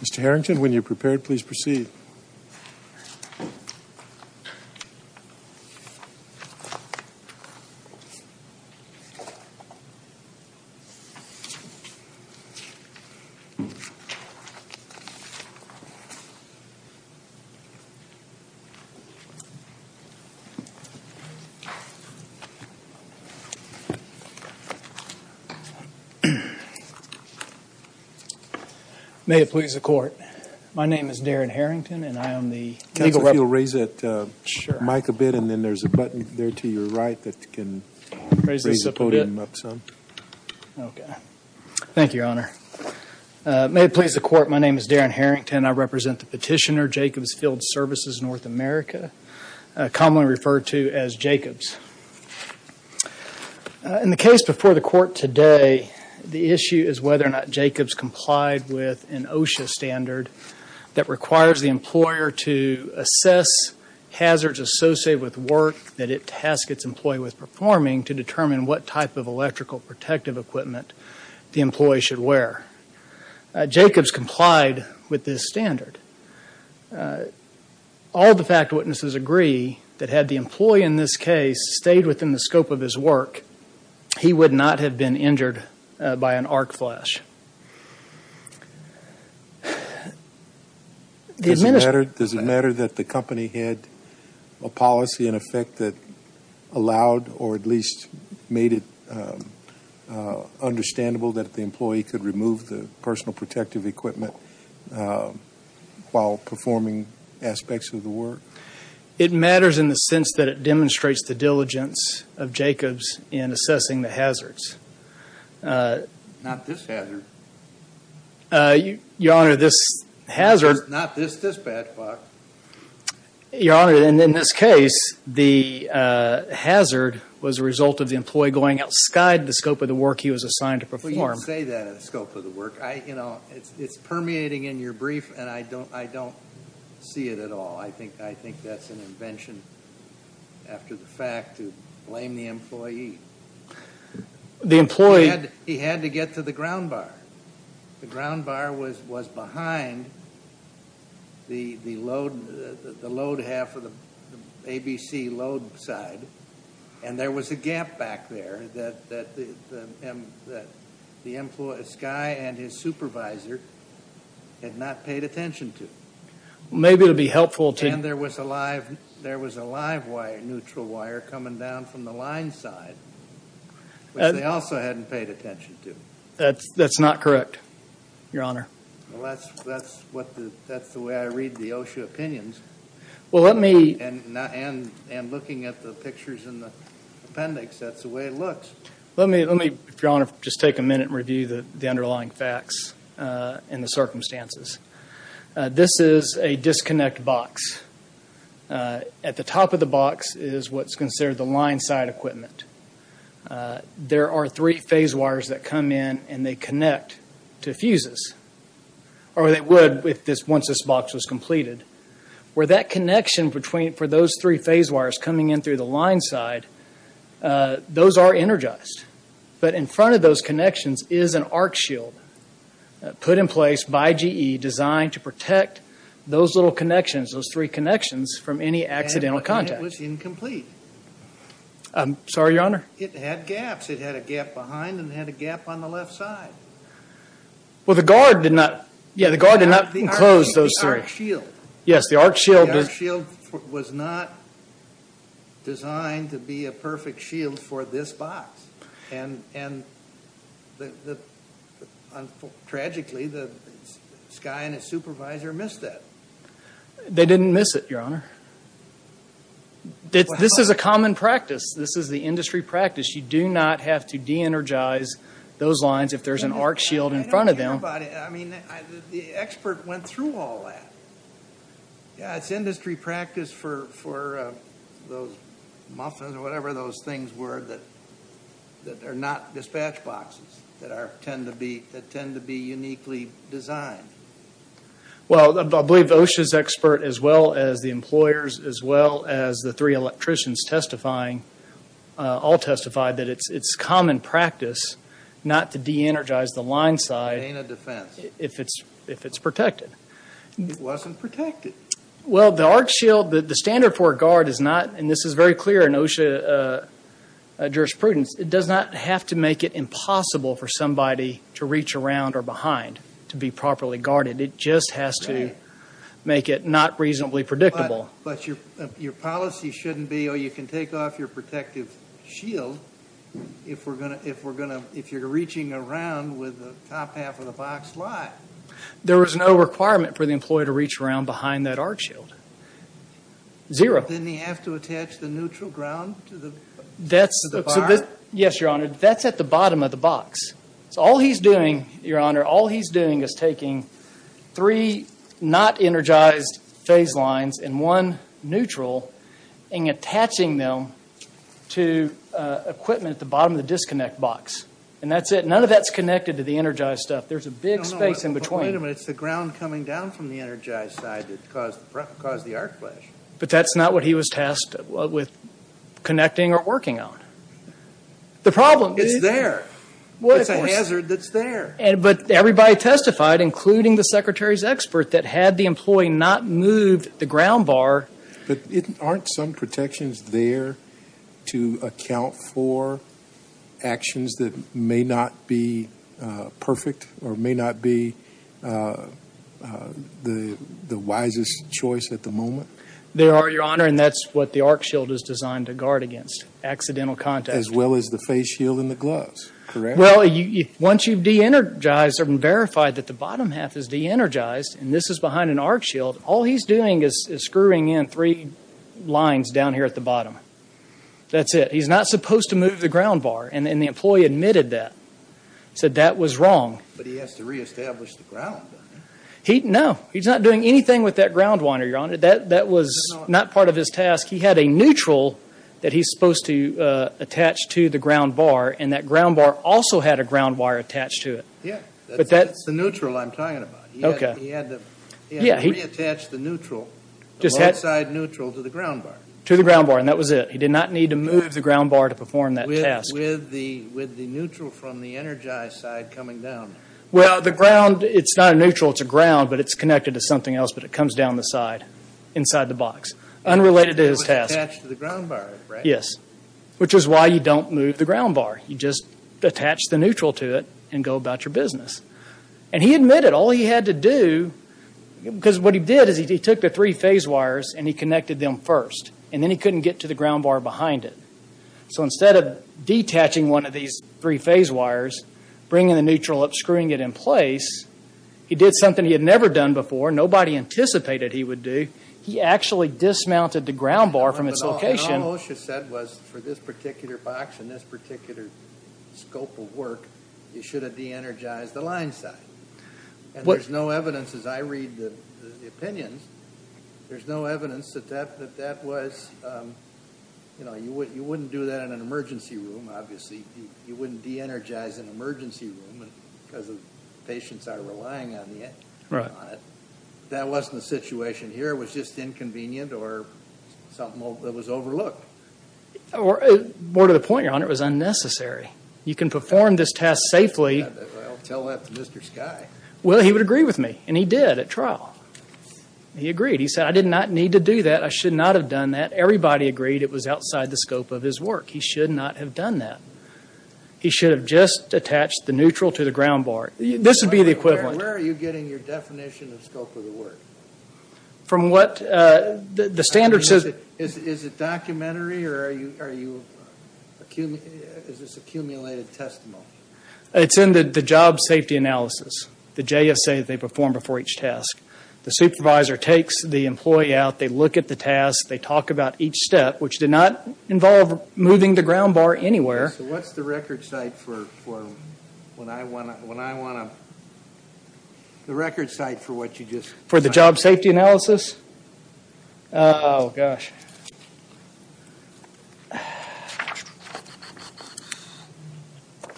Mr. Harrington, when you're prepared, please proceed. Darin Harrington May it please the Court, my name is Darin Harrington and I am the legal representative May it please the Court, my name is Darin Harrington and I represent the petitioner, Jacobs Field Services, North America, commonly referred to as Jacobs. In the case before the Court today, the issue is whether or not Jacobs complied with an OSHA standard that requires the employer to assess hazards associated with work that it tasks its employee with performing to determine what type of electrical protective equipment the employee should wear. Jacobs complied with this standard. All the fact witnesses agree that had the employee in this case stayed within the scope of his work, he would not have been injured by an arc flash. The Administrator Does it matter that the company had a policy in effect that allowed or at least made it understandable that the employee could remove the personal protective equipment while performing aspects of the work? Darin Harrington It matters in the sense that it demonstrates the diligence of Jacobs in assessing the hazards. The Administrator Not this hazard. Darin Harrington Your Honor, this hazard The Administrator Not this bad luck. Darin Harrington Your Honor, in this case, the hazard was a result of the employee going outside the scope of the work he was assigned to perform. Justice Breyer I don't say that in the scope of the work. It's permeating in your brief, and I don't see it at all. I think that's an invention after the fact to blame the employee. He had to get to the ground bar. The ground bar was behind the load half of the ABC load side, and there was a gap back there that this guy and his supervisor had not paid attention to. Darin Harrington Maybe it would be helpful to Justice Breyer And there was a live wire, neutral wire coming down from the line side, which they also hadn't paid attention to. Darin Harrington That's not correct, Your Honor. Justice Breyer That's the way I read the OSHA opinions. And looking at the pictures in the appendix, that's the way it looks. Darin Harrington Let me, Your Honor, just take a minute and review the underlying facts and the circumstances. This is a disconnect box. At the top of the box is what's considered the line side equipment. There are three phase wires that come in, and they connect to fuses. Or they would once this box was completed. Where that connection for those three phase wires coming in through the line side, those are energized. But in front of those connections is an arc shield put in place by GE designed to protect those little connections, those three connections, from any accidental contact. Justice Breyer And it was incomplete. Darin Harrington I'm sorry, Your Honor. Justice Breyer It had gaps. It had a gap behind and it had a gap on the left side. Well, the guard did not enclose those three. Darin Harrington The arc shield. Justice Breyer Yes, the arc shield. Darin Harrington The arc shield was not designed to be a perfect shield for this box. And tragically, Skye and his supervisor missed that. Justice Breyer They didn't miss it, Your Honor. This is a common practice. This is the industry practice. You do not have to de-energize those lines if there's an arc shield in front of them. Darin Harrington I don't care about it. I mean, the expert went through all that. It's industry practice for those muffins or whatever those things were that are not dispatch boxes that tend to be uniquely designed. Justice Breyer Well, I believe OSHA's expert, as well as the employers, as well as the three electricians testifying, all testified that it's common practice not to de-energize the line side if it's protected. Darin Harrington It wasn't protected. Justice Breyer Well, the arc shield, the standard for a guard is not, and this is very clear in OSHA jurisprudence, it does not have to make it impossible for somebody to reach around or behind to be properly guarded. It just has to make it not reasonably predictable. Darin Harrington But your policy shouldn't be, oh, you can take off your protective shield if you're reaching around with the top half of the box live. Justice Breyer There was no requirement for the employee to reach around behind that arc shield. Zero. Darin Harrington Then they have to attach the neutral ground to the bar? Justice Breyer Yes, Your Honor. That's at the bottom of the box. So all he's doing, Your Honor, all he's doing is taking three not energized phase lines and one neutral and attaching them to equipment at the bottom of the disconnect box. And that's it. None of that's connected to the energized stuff. There's a big space in between. Darin Harrington No, no, wait a minute. It's the ground coming down from the energized side that caused the arc flash. But that's not what he was tasked with connecting or working on. The problem is… Justice Breyer It's there. It's a hazard that's there. Darin Harrington But everybody testified, including the Secretary's expert, that had the employee not moved the ground bar… Justice Breyer But aren't some protections there to account for actions that may not be perfect or may not be the wisest choice at the moment? Darin Harrington They are, Your Honor. And that's what the arc shield is designed to guard against, accidental contact. Justice Breyer As well as the face shield and the gloves. Correct? Darin Harrington Well, once you've de-energized or verified that the bottom half is de-energized and this is behind an arc shield, all he's doing is screwing in three lines down here at the bottom. That's it. He's not supposed to move the ground bar. And the employee admitted that. He said that was wrong. Justice Breyer But he has to reestablish the ground. Darin Harrington No. He's not doing anything with that ground wire, Your Honor. That was not part of his task. He had a neutral that he's supposed to attach to the ground bar, and that ground bar also had a ground wire attached to it. Justice Breyer Yeah. That's the neutral I'm talking about. He had to reattach the neutral, the left-side neutral, to the ground bar. Darin Harrington To the ground bar, and that was it. He did not need to move the ground bar to perform that task. Justice Breyer With the neutral from the energized side coming down. Darin Harrington Well, the ground, it's not a neutral, it's a ground, but it's connected to something else, but it comes down the side inside the box. Unrelated to his task. Justice Breyer It was attached to the ground bar, right? Darin Harrington Yes, which is why you don't move the ground bar. You just attach the neutral to it and go about your business. And he admitted all he had to do, because what he did is he took the three phase wires and he connected them first, and then he couldn't get to the ground bar behind it. So instead of detaching one of these three phase wires, bringing the neutral up, screwing it in place, he did something he had never done before. Nobody anticipated he would do. He actually dismounted the ground bar from its location. Justice Breyer But all OSHA said was for this particular box and this particular scope of work, you should have de-energized the line side. And there's no evidence, as I read the opinions, there's no evidence that that was, you know, you wouldn't do that in an emergency room, obviously. You wouldn't de-energize an emergency room because the patients are relying on it. That wasn't the situation here. It was just inconvenient or something that was overlooked. Darin Harrington More to the point, Your Honor, it was unnecessary. You can perform this test safely. Justice Breyer Well, tell that to Mr. Skye. Darin Harrington Well, he would agree with me, and he did at trial. He agreed. He said, I did not need to do that. I should not have done that. Everybody agreed it was outside the scope of his work. He should not have done that. He should have just attached the neutral to the ground bar. This would be the equivalent. Justice Breyer Where are you getting your definition of scope of the work? Darin Harrington From what the standard says. Justice Breyer Is it documentary or is this accumulated testimony? Darin Harrington It's in the job safety analysis. The JSA, they perform before each test. The supervisor takes the employee out. They look at the test. They talk about each step, which did not involve moving the ground bar anywhere. Justice Breyer So what's the record site for when I want to – the record site for what you just – Darin Harrington For the job safety analysis? Oh, gosh. Okay.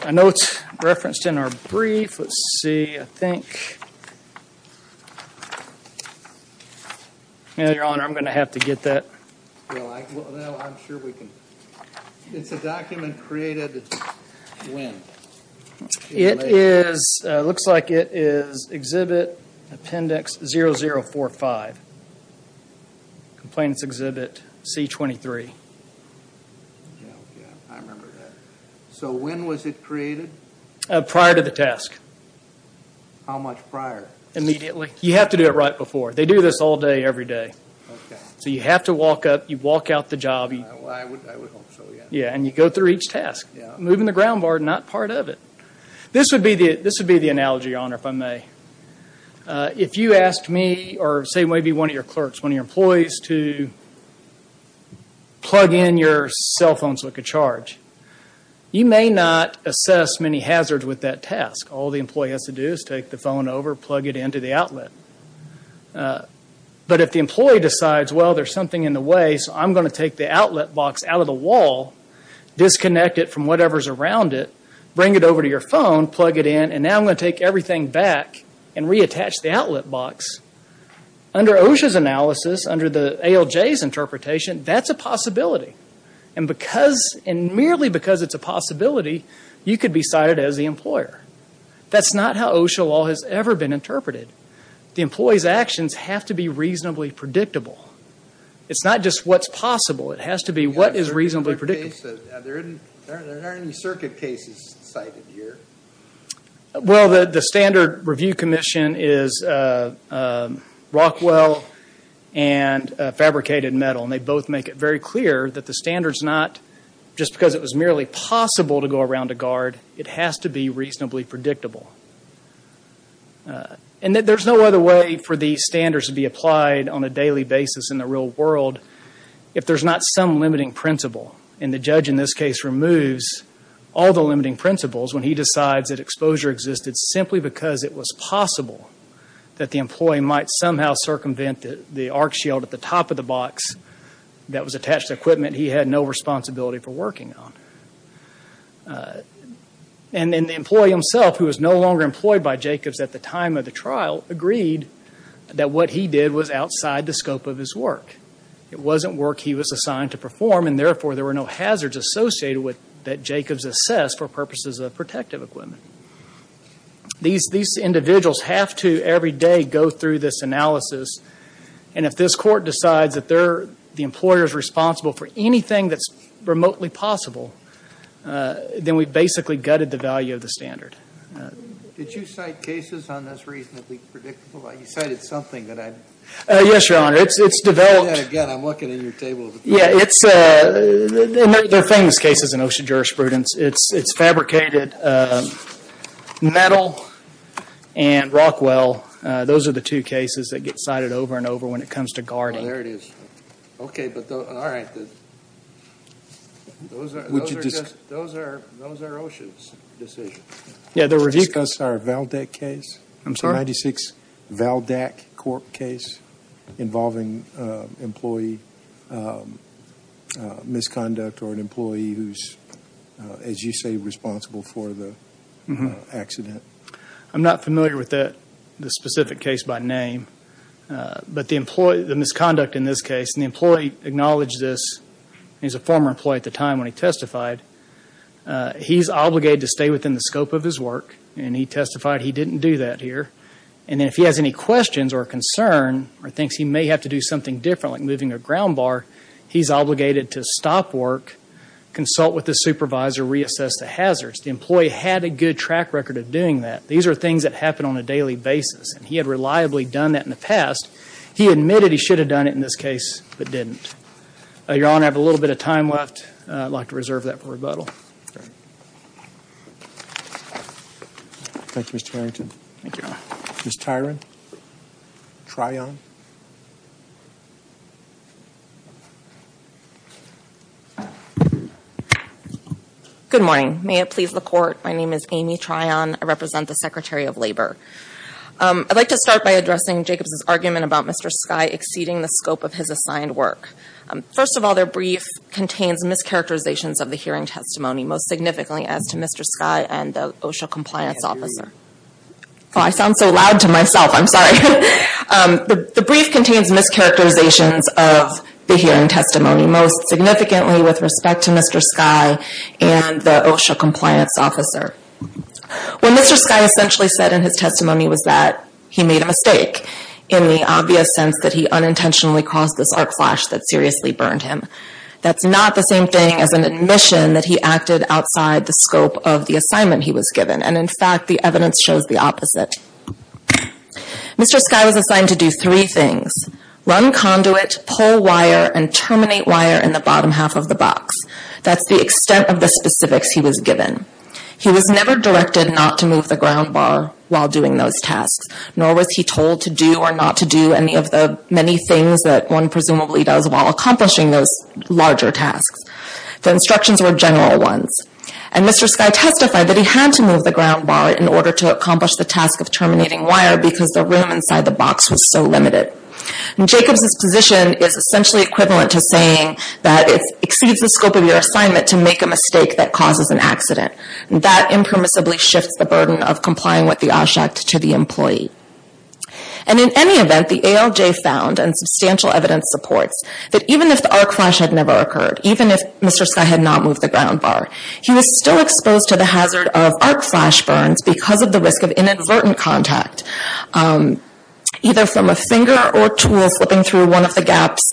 I know it's referenced in our brief. Let's see. I think – Your Honor, I'm going to have to get that. Justice Breyer Well, I'm sure we can. It's a document created when? Darin Harrington It is – looks like it is Exhibit Appendix 0045. Complainants Exhibit C23. Justice Breyer I remember that. So when was it created? Darin Harrington Prior to the task. Justice Breyer How much prior? Darin Harrington Immediately. You have to do it right before. They do this all day, every day. Justice Breyer Okay. Darin Harrington So you have to walk up. You walk out the job. Justice Breyer I would hope so, yes. Darin Harrington Yeah, and you go through each task. Moving the ground bar is not part of it. This would be the analogy, Your Honor, if I may. If you asked me, or say maybe one of your clerks, one of your employees, to plug in your cell phone so it could charge, you may not assess many hazards with that task. All the employee has to do is take the phone over, plug it into the outlet. But if the employee decides, well, there's something in the way, so I'm going to take the outlet box out of the wall, disconnect it from whatever's around it, bring it over to your phone, plug it in, and now I'm going to take everything back and reattach the outlet box, under OSHA's analysis, under the ALJ's interpretation, that's a possibility. And merely because it's a possibility, you could be cited as the employer. That's not how OSHA law has ever been interpreted. The employee's actions have to be reasonably predictable. It's not just what's possible. It has to be what is reasonably predictable. There aren't any circuit cases cited here. Well, the standard review commission is Rockwell and Fabricated Metal, and they both make it very clear that the standard's not just because it was merely possible to go around a guard. It has to be reasonably predictable. And there's no other way for these standards to be applied on a daily basis in the real world if there's not some limiting principle. And the judge in this case removes all the limiting principles when he decides that exposure existed simply because it was possible that the employee might somehow circumvent the arc shield at the top of the box that was attached to equipment he had no responsibility for working on. And the employee himself, who was no longer employed by Jacobs at the time of the trial, agreed that what he did was outside the scope of his work. It wasn't work he was assigned to perform, and therefore there were no hazards associated that Jacobs assessed for purposes of protective equipment. These individuals have to every day go through this analysis, and if this court decides that the employer is responsible for anything that's remotely possible, then we've basically gutted the value of the standard. Did you cite cases on this reasonably predictable? You cited something that I... Yes, Your Honor. It's developed... Say that again. I'm looking at your table. Yeah, it's... They're famous cases in ocean jurisprudence. It's fabricated. Metal and Rockwell, those are the two cases that get cited over and over when it comes to guarding. Oh, there it is. Okay, but... All right. Those are ocean's decisions. Yeah, the review... Did you discuss our Valdek case? I'm sorry? 96 Valdek court case involving employee misconduct or an employee who's, as you say, responsible for the accident. I'm not familiar with the specific case by name, but the misconduct in this case, and the employee acknowledged this, and he was a former employee at the time when he testified. He's obligated to stay within the scope of his work, and he testified he didn't do that here. And then if he has any questions or concern or thinks he may have to do something different, like moving a ground bar, he's obligated to stop work, consult with the supervisor, reassess the hazards. The employee had a good track record of doing that. These are things that happen on a daily basis, and he had reliably done that in the past. He admitted he should have done it in this case, but didn't. Your Honor, I have a little bit of time left. I'd like to reserve that for rebuttal. Thank you, Mr. Harrington. Thank you, Your Honor. Ms. Tyron? Tryon? Good morning. May it please the court, my name is Amy Tryon. I represent the Secretary of Labor. I'd like to start by addressing Jacobs' argument about Mr. Skye exceeding the scope of his assigned work. First of all, their brief contains mischaracterizations of the hearing testimony, most significantly as to Mr. Skye and the OSHA compliance officer. I sound so loud to myself, I'm sorry. The brief contains mischaracterizations of the hearing testimony, most significantly with respect to Mr. Skye and the OSHA compliance officer. What Mr. Skye essentially said in his testimony was that he made a mistake, in the obvious sense that he unintentionally caused this arc flash that seriously burned him. That's not the same thing as an admission that he acted outside the scope of the assignment he was given, and in fact, the evidence shows the opposite. Mr. Skye was assigned to do three things, run conduit, pull wire, and terminate wire in the bottom half of the box. That's the extent of the specifics he was given. He was never directed not to move the ground bar while doing those tasks, nor was he told to do or not to do any of the many things that one presumably does while accomplishing those larger tasks. The instructions were general ones, and Mr. Skye testified that he had to move the ground bar in order to accomplish the task of terminating wire because the room inside the box was so limited. Jacobs' position is essentially equivalent to saying that it exceeds the scope of your assignment to make a mistake that causes an accident. That impermissibly shifts the burden of complying with the OSH Act to the employee. And in any event, the ALJ found, and substantial evidence supports, that even if the arc flash had never occurred, even if Mr. Skye had not moved the ground bar, he was still exposed to the hazard of arc flash burns because of the risk of inadvertent contact, either from a finger or tool flipping through one of the gaps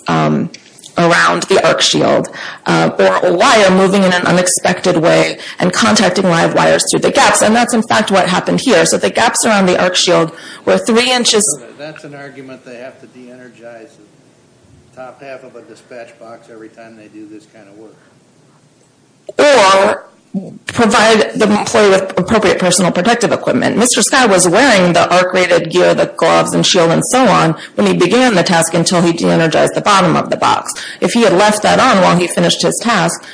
around the arc shield, or a wire moving in an unexpected way and contacting live wires through the gaps. And that's, in fact, what happened here. So the gaps around the arc shield were three inches. That's an argument they have to de-energize the top half of a dispatch box every time they do this kind of work. Or provide the employee with appropriate personal protective equipment. Mr. Skye was wearing the arc-rated gear, the gloves and shield and so on, when he began the task until he de-energized the bottom of the box. If he had left that on while he finished his task,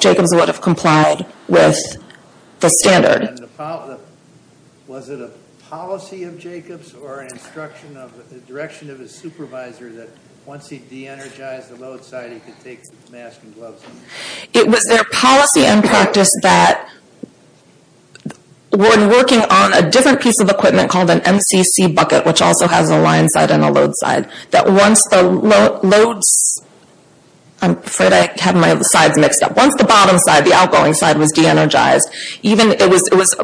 Jacobs would have complied with the standard. And was it a policy of Jacobs or an instruction of the direction of his supervisor that once he de-energized the load side, he could take the mask and gloves off? It was their policy and practice that when working on a different piece of equipment called an MCC bucket, which also has a line side and a load side, that once the loads... I'm afraid I have my sides mixed up. Once the bottom side, the outgoing side was de-energized, it was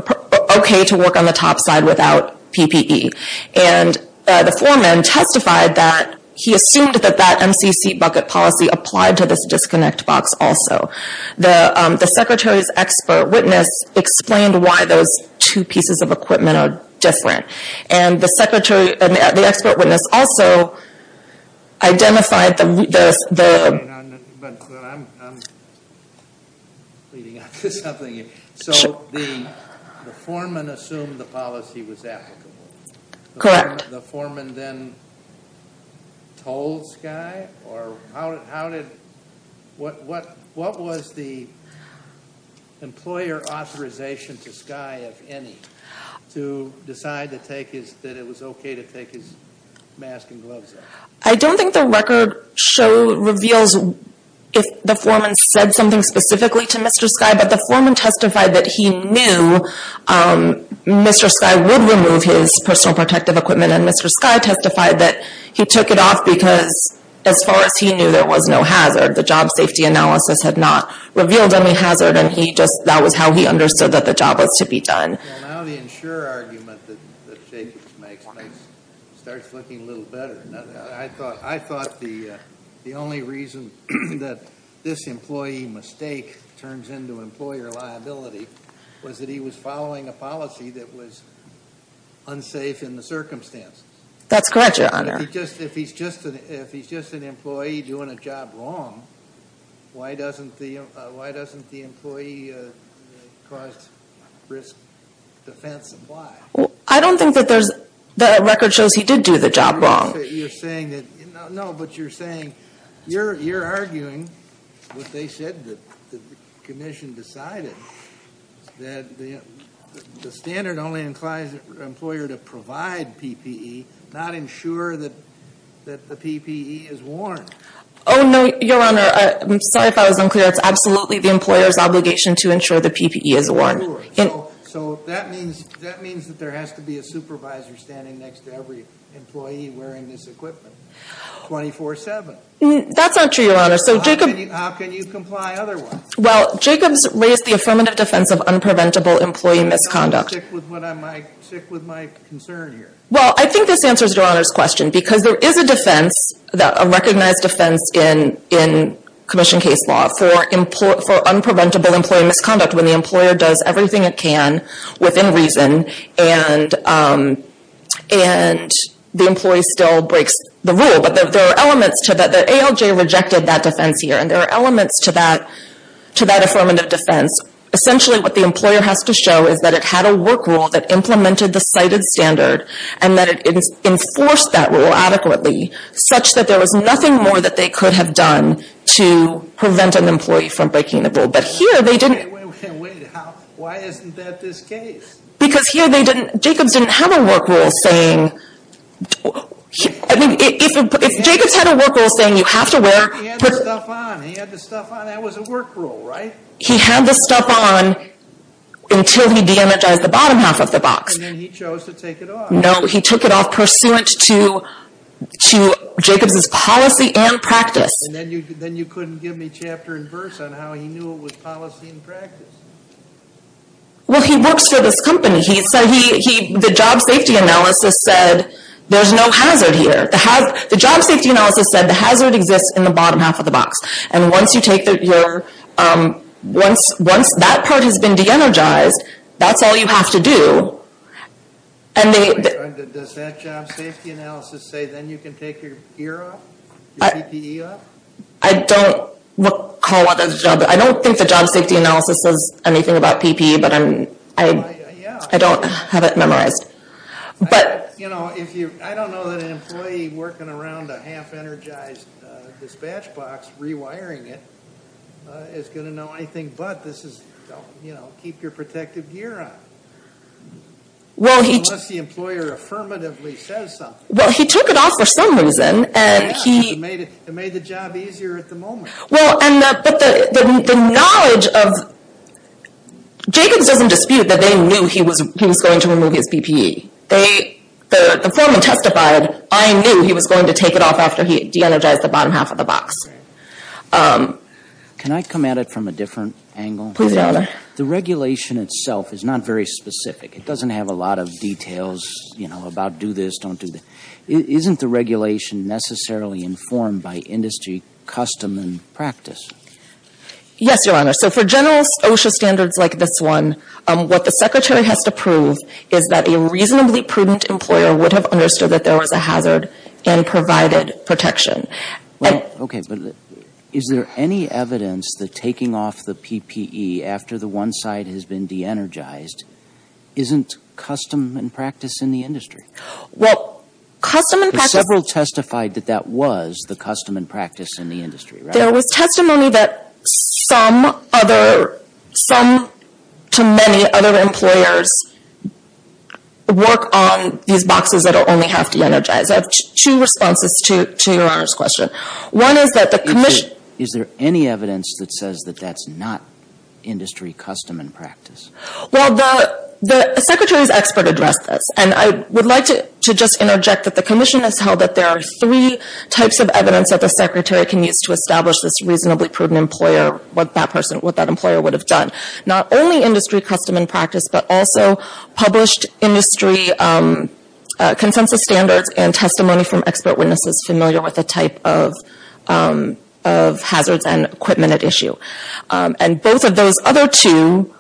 okay to work on the top side without PPE. And the foreman testified that he assumed that that MCC bucket policy applied to this disconnect box also. The secretary's expert witness explained why those two pieces of equipment are different. And the expert witness also identified the... I'm leading on to something here. So the foreman assumed the policy was applicable? Correct. The foreman then told Skye? Or how did... What was the employer authorization to Skye, if any, to decide that it was okay to take his mask and gloves off? I don't think the record reveals if the foreman said something specifically to Mr. Skye, but the foreman testified that he knew Mr. Skye would remove his personal protective equipment, and Mr. Skye testified that he took it off because, as far as he knew, there was no hazard. The job safety analysis had not revealed any hazard, and he just... That was how he understood that the job was to be done. Well, now the insurer argument that Jacobs makes starts looking a little better. I thought the only reason that this employee mistake turns into employer liability was that he was following a policy that was unsafe in the circumstances. That's correct, Your Honor. If he's just an employee doing a job wrong, why doesn't the employee cause risk defense, and why? I don't think that the record shows he did do the job wrong. You're saying that... No, but you're saying... You're arguing what they said that the commission decided, that the standard only implies the employer to provide PPE, not ensure that the PPE is worn. Oh, no, Your Honor. I'm sorry if I was unclear. It's absolutely the employer's obligation to ensure the PPE is worn. So that means that there has to be a supervisor standing next to every employee wearing this equipment 24-7. That's not true, Your Honor. How can you comply otherwise? Well, Jacobs raised the affirmative defense of unpreventable employee misconduct. I'll stick with my concern here. Well, I think this answers Your Honor's question, because there is a defense, a recognized defense in commission case law for unpreventable employee misconduct when the employer does everything it can within reason, and the employee still breaks the rule. But there are elements to that. The ALJ rejected that defense here, and there are elements to that affirmative defense. Essentially, what the employer has to show is that it had a work rule that implemented the cited standard, and that it enforced that rule adequately, such that there was nothing more that they could have done to prevent an employee from breaking the rule. But here they didn't. Wait, wait, wait. Why isn't that this case? Because here they didn't. Jacobs didn't have a work rule saying. I mean, if Jacobs had a work rule saying you have to wear. He had the stuff on. He had the stuff on. That was a work rule, right? He had the stuff on until he de-energized the bottom half of the box. And then he chose to take it off. No, he took it off pursuant to Jacobs' policy and practice. And then you couldn't give me chapter and verse on how he knew it was policy and practice. Well, he works for this company. The job safety analysis said there's no hazard here. The job safety analysis said the hazard exists in the bottom half of the box. And once that part has been de-energized, that's all you have to do. Does that job safety analysis say then you can take your gear off? Your PPE off? I don't recall what the job. I don't think the job safety analysis says anything about PPE, but I don't have it memorized. But. You know, I don't know that an employee working around a half-energized dispatch box rewiring it is going to know anything. But this is, you know, keep your protective gear on. Unless the employer affirmatively says something. Well, he took it off for some reason. It made the job easier at the moment. Well, but the knowledge of... Jacobs doesn't dispute that they knew he was going to remove his PPE. The foreman testified, I knew he was going to take it off after he de-energized the bottom half of the box. Can I come at it from a different angle? Please do, Your Honor. The regulation itself is not very specific. It doesn't have a lot of details, you know, about do this, don't do this. Isn't the regulation necessarily informed by industry custom and practice? Yes, Your Honor. So for general OSHA standards like this one, what the Secretary has to prove is that a reasonably prudent employer would have understood that there was a hazard and provided protection. Okay, but is there any evidence that taking off the PPE after the one side has been de-energized isn't custom and practice in the industry? Well, custom and practice... But several testified that that was the custom and practice in the industry, right? There was testimony that some other, some to many other employers work on these boxes that only have to be energized. I have two responses to Your Honor's question. One is that the commission... Is there any evidence that says that that's not industry custom and practice? Well, the Secretary's expert addressed this. And I would like to just interject that the commission has held that there are three types of evidence that the Secretary can use to establish this reasonably prudent employer, what that person, what that employer would have done. Not only industry custom and practice, but also published industry consensus standards and testimony from expert witnesses familiar with the type of hazards and equipment at issue. And both of those other two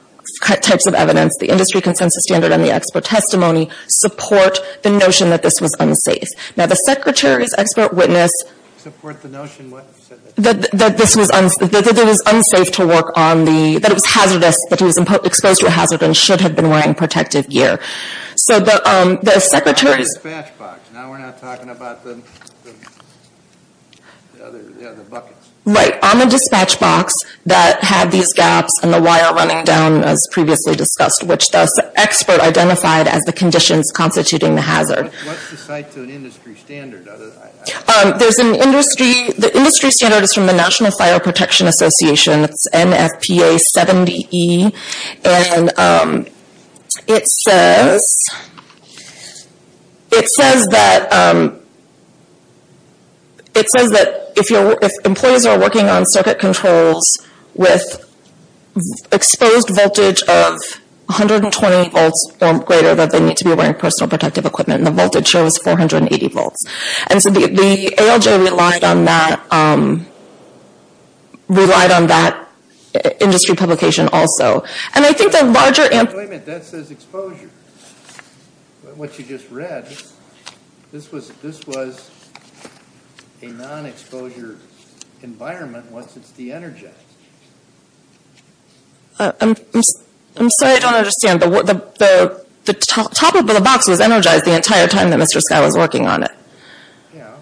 types of evidence, the industry consensus standard and the expert testimony, support the notion that this was unsafe. Now the Secretary's expert witness... Support the notion what? That this was unsafe, that it was unsafe to work on the, that it was hazardous, that he was exposed to a hazard and should have been wearing protective gear. So the Secretary's... On the dispatch box. Now we're not talking about the other buckets. Right. On the dispatch box that had these gaps and the wire running down as previously discussed, which the expert identified as the conditions constituting the hazard. What's the site to an industry standard? There's an industry... the industry standard is from the National Fire Protection Association. It's NFPA 70E. And it says... It says that... It says that if employees are working on circuit controls with exposed voltage of 120 volts or greater, that they need to be wearing personal protective equipment. And the voltage here was 480 volts. And so the ALJ relied on that... relied on that industry publication also. And I think the larger... Wait a minute, that says exposure. What you just read, this was a non-exposure environment once it's de-energized. I'm sorry, I don't understand. The top of the box was energized the entire time that Mr. Skye was working on it. Yeah.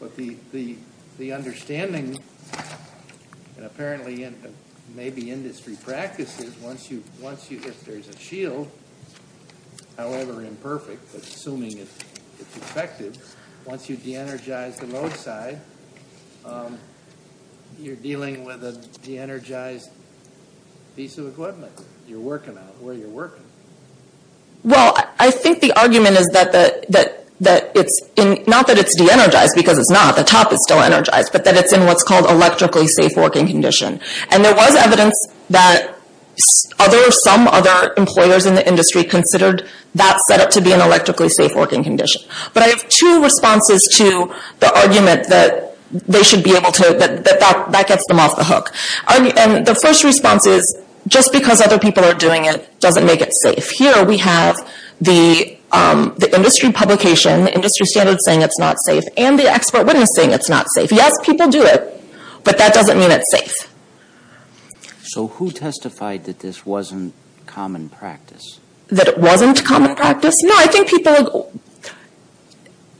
But the understanding, and apparently in maybe industry practices, once you... If you're dealing with a de-energized piece of equipment, you're working on it where you're working. Well, I think the argument is that the... that it's in... not that it's de-energized because it's not. The top is still energized. But that it's in what's called electrically safe working condition. And there was evidence that other... some other employers in the industry considered that set up to be an electrically safe working condition. But I have two responses to the argument that they should be able to... that that gets them off the hook. And the first response is, just because other people are doing it, doesn't make it safe. Here we have the industry publication, industry standards saying it's not safe, and the expert witnessing it's not safe. Yes, people do it, but that doesn't mean it's safe. So, who testified that this wasn't common practice? That it wasn't common practice? No, I think people...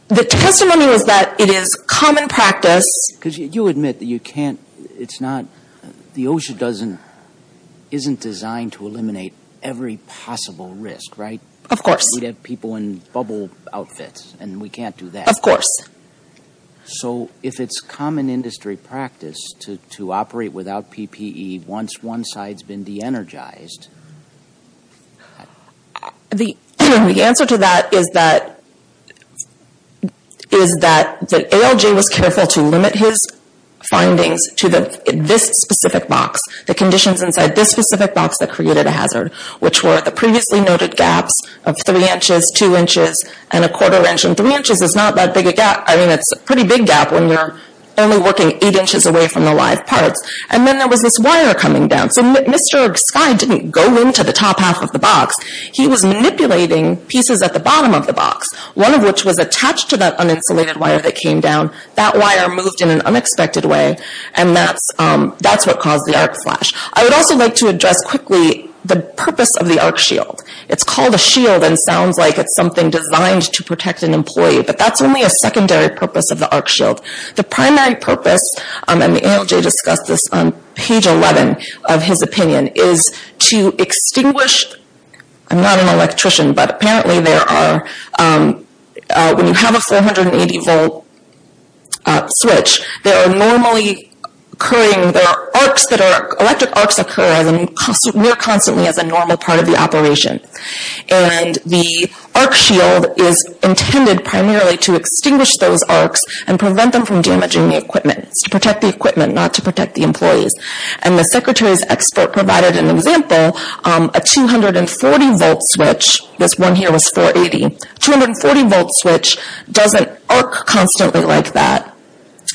the testimony was that it is common practice. Because you admit that you can't... it's not... the OSHA doesn't... isn't designed to eliminate every possible risk, right? Of course. We'd have people in bubble outfits, and we can't do that. Of course. So, if it's common industry practice to operate without PPE once one side's been de-energized... The answer to that is that... is that ALJ was careful to limit his findings to this specific box. The conditions inside this specific box that created a hazard, which were the previously noted gaps of three inches, two inches, and a quarter inch. And three inches is not that big a gap. I mean, it's a pretty big gap when you're only working eight inches away from the live parts. And then there was this wire coming down. So, Mr. Skye didn't go into the top half of the box. He was manipulating pieces at the bottom of the box. One of which was attached to that uninsulated wire that came down. That wire moved in an unexpected way. And that's... that's what caused the arc flash. I would also like to address quickly the purpose of the arc shield. It's called a shield and sounds like it's something designed to protect an employee. But, that's only a secondary purpose of the arc shield. The primary purpose, and ALJ discussed this on page 11 of his opinion, is to extinguish... I'm not an electrician, but apparently there are... When you have a 480 volt switch, there are normally occurring... There are arcs that are... electric arcs occur near constantly as a normal part of the operation. And, the arc shield is intended primarily to extinguish those arcs and prevent them from damaging the equipment. It's to protect the equipment, not to protect the employees. And, the Secretary's expert provided an example. A 240 volt switch, this one here was 480. A 240 volt switch doesn't arc constantly like that.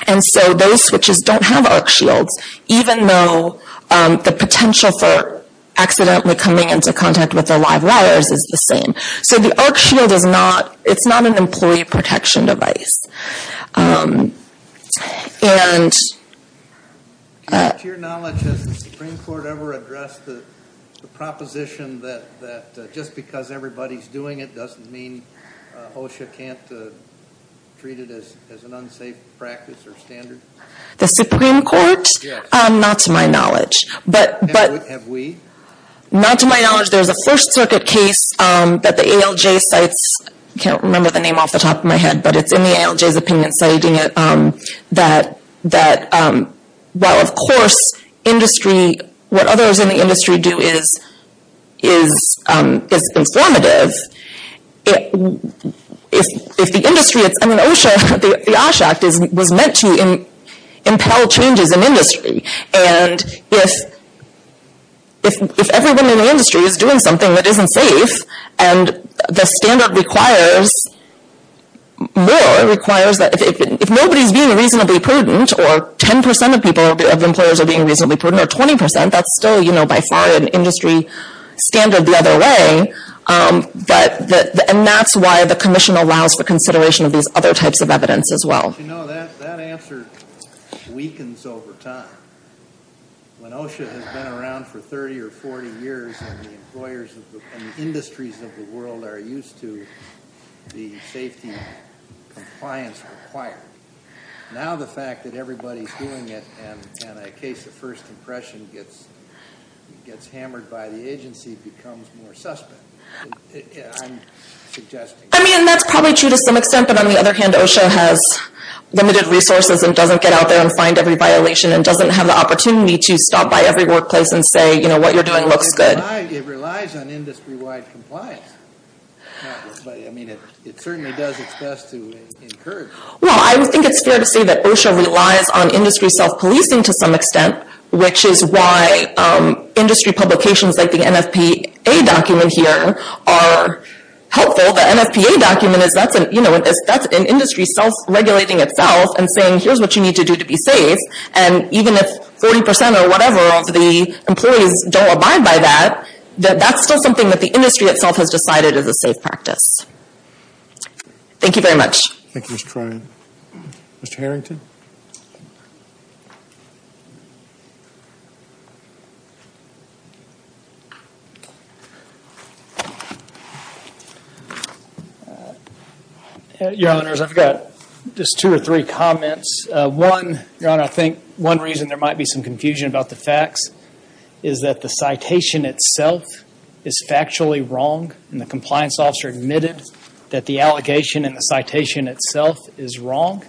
And so, those switches don't have arc shields. Even though, the potential for accidentally coming into contact with the live wires is the same. So, the arc shield is not... it's not an employee protection device. And... To your knowledge, has the Supreme Court ever addressed the proposition that just because everybody's doing it... doesn't mean HOSHA can't treat it as an unsafe practice or standard? The Supreme Court? Yes. Not to my knowledge. But... Have we? Not to my knowledge. There's a First Circuit case that the ALJ cites. I can't remember the name off the top of my head. But, it's in the ALJ's opinion citing it. That... that... Well, of course, industry... what others in the industry do is... is informative. If... if the industry... I mean, OSHA... the OSHA Act was meant to impel changes in industry. And, if... if everyone in the industry is doing something that isn't safe... And, the standard requires... more... requires that... If nobody's being reasonably prudent or 10% of people... of employers are being reasonably prudent or 20%... That's still, you know, by far, an industry standard the other way. But, the... and that's why the Commission allows for consideration of these other types of evidence, as well. You know, that... that answer weakens over time. When OSHA has been around for 30 or 40 years... And, the employers of the... and the industries of the world are used to the safety compliance required. Now, the fact that everybody's doing it... And, a case of first impression gets... gets hammered by the agency, becomes more suspect. I'm suggesting... I mean, and that's probably true to some extent. But, on the other hand, OSHA has limited resources and doesn't get out there and find every violation. And, doesn't have the opportunity to stop by every workplace and say, you know, what you're doing looks good. It relies on industry-wide compliance. I mean, it certainly does its best to encourage... Well, I think it's fair to say that OSHA relies on industry self-policing, to some extent. Which is why industry publications, like the NFPA document here, are helpful. The NFPA document is... that's an industry self-regulating itself and saying, here's what you need to do to be safe. And, even if 40% or whatever of the employees don't abide by that... That's still something that the industry itself has decided is a safe practice. Thank you very much. Thank you, Mr. Troy. Mr. Harrington? Your Honors, I've got just two or three comments. One, Your Honor, I think one reason there might be some confusion about the facts... is that the citation itself is factually wrong. And, the compliance officer admitted that the allegation in the citation itself is wrong.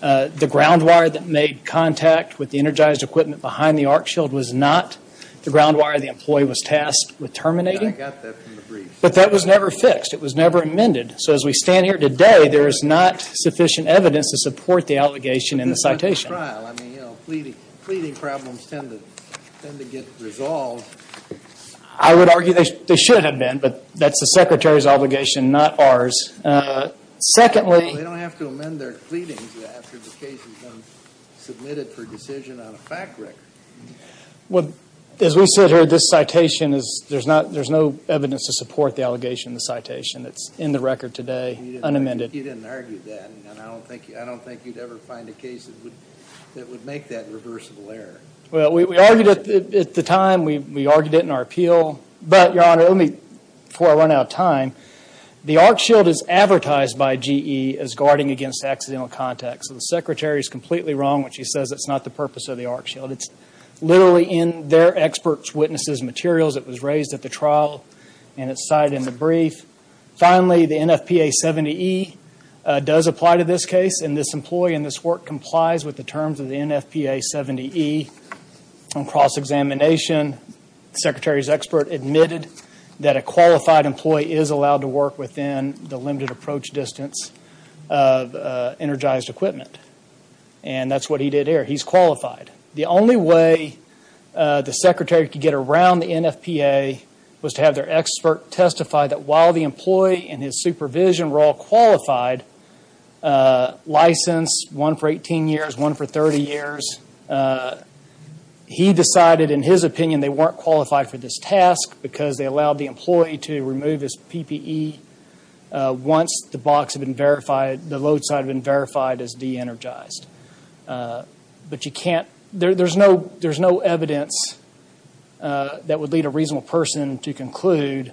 The ground wire that made contact with the energized equipment behind the arc shield was not the ground wire the employee was tasked with terminating. And, I got that from the brief. But, that was never fixed. It was never amended. So, as we stand here today, there is not sufficient evidence to support the allegation in the citation. But, this isn't a trial. I mean, you know, fleeting problems tend to get resolved. I would argue they should have been, but that's the Secretary's obligation, not ours. Secondly... They don't have to amend their pleadings after the case has been submitted for decision on a fact record. Well, as we sit here, this citation is... there's no evidence to support the allegation in the citation. It's in the record today, unamended. You didn't argue that. And, I don't think you'd ever find a case that would make that reversible error. Well, we argued it at the time. We argued it in our appeal. But, Your Honor, let me... before I run out of time. The arc shield is advertised by GE as guarding against accidental contact. So, the Secretary is completely wrong when she says it's not the purpose of the arc shield. It's literally in their experts' witnesses' materials. It was raised at the trial, and it's cited in the brief. Finally, the NFPA 70E does apply to this case. And, this employee in this work complies with the terms of the NFPA 70E. On cross-examination, the Secretary's expert admitted that a qualified employee is allowed to work within the limited approach distance of energized equipment. And, that's what he did here. He's qualified. The only way the Secretary could get around the NFPA was to have their expert testify that while the employee and his supervision were all qualified, licensed, one for 18 years, one for 30 years, he decided, in his opinion, they weren't qualified for this task because they allowed the employee to remove his PPE once the box had been verified, the load side had been verified as de-energized. But, there's no evidence that would lead a reasonable person to conclude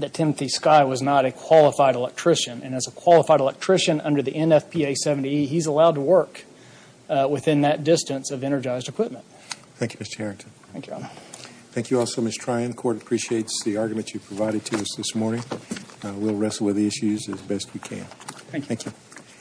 that Timothy Skye was not a qualified electrician. And, as a qualified electrician under the NFPA 70E, he's allowed to work within that distance of energized equipment. Thank you, Mr. Harrington. Thank you, Your Honor. Thank you also, Ms. Tryon. The Court appreciates the argument you provided to us this morning. We'll wrestle with the issues as best we can. Thank you.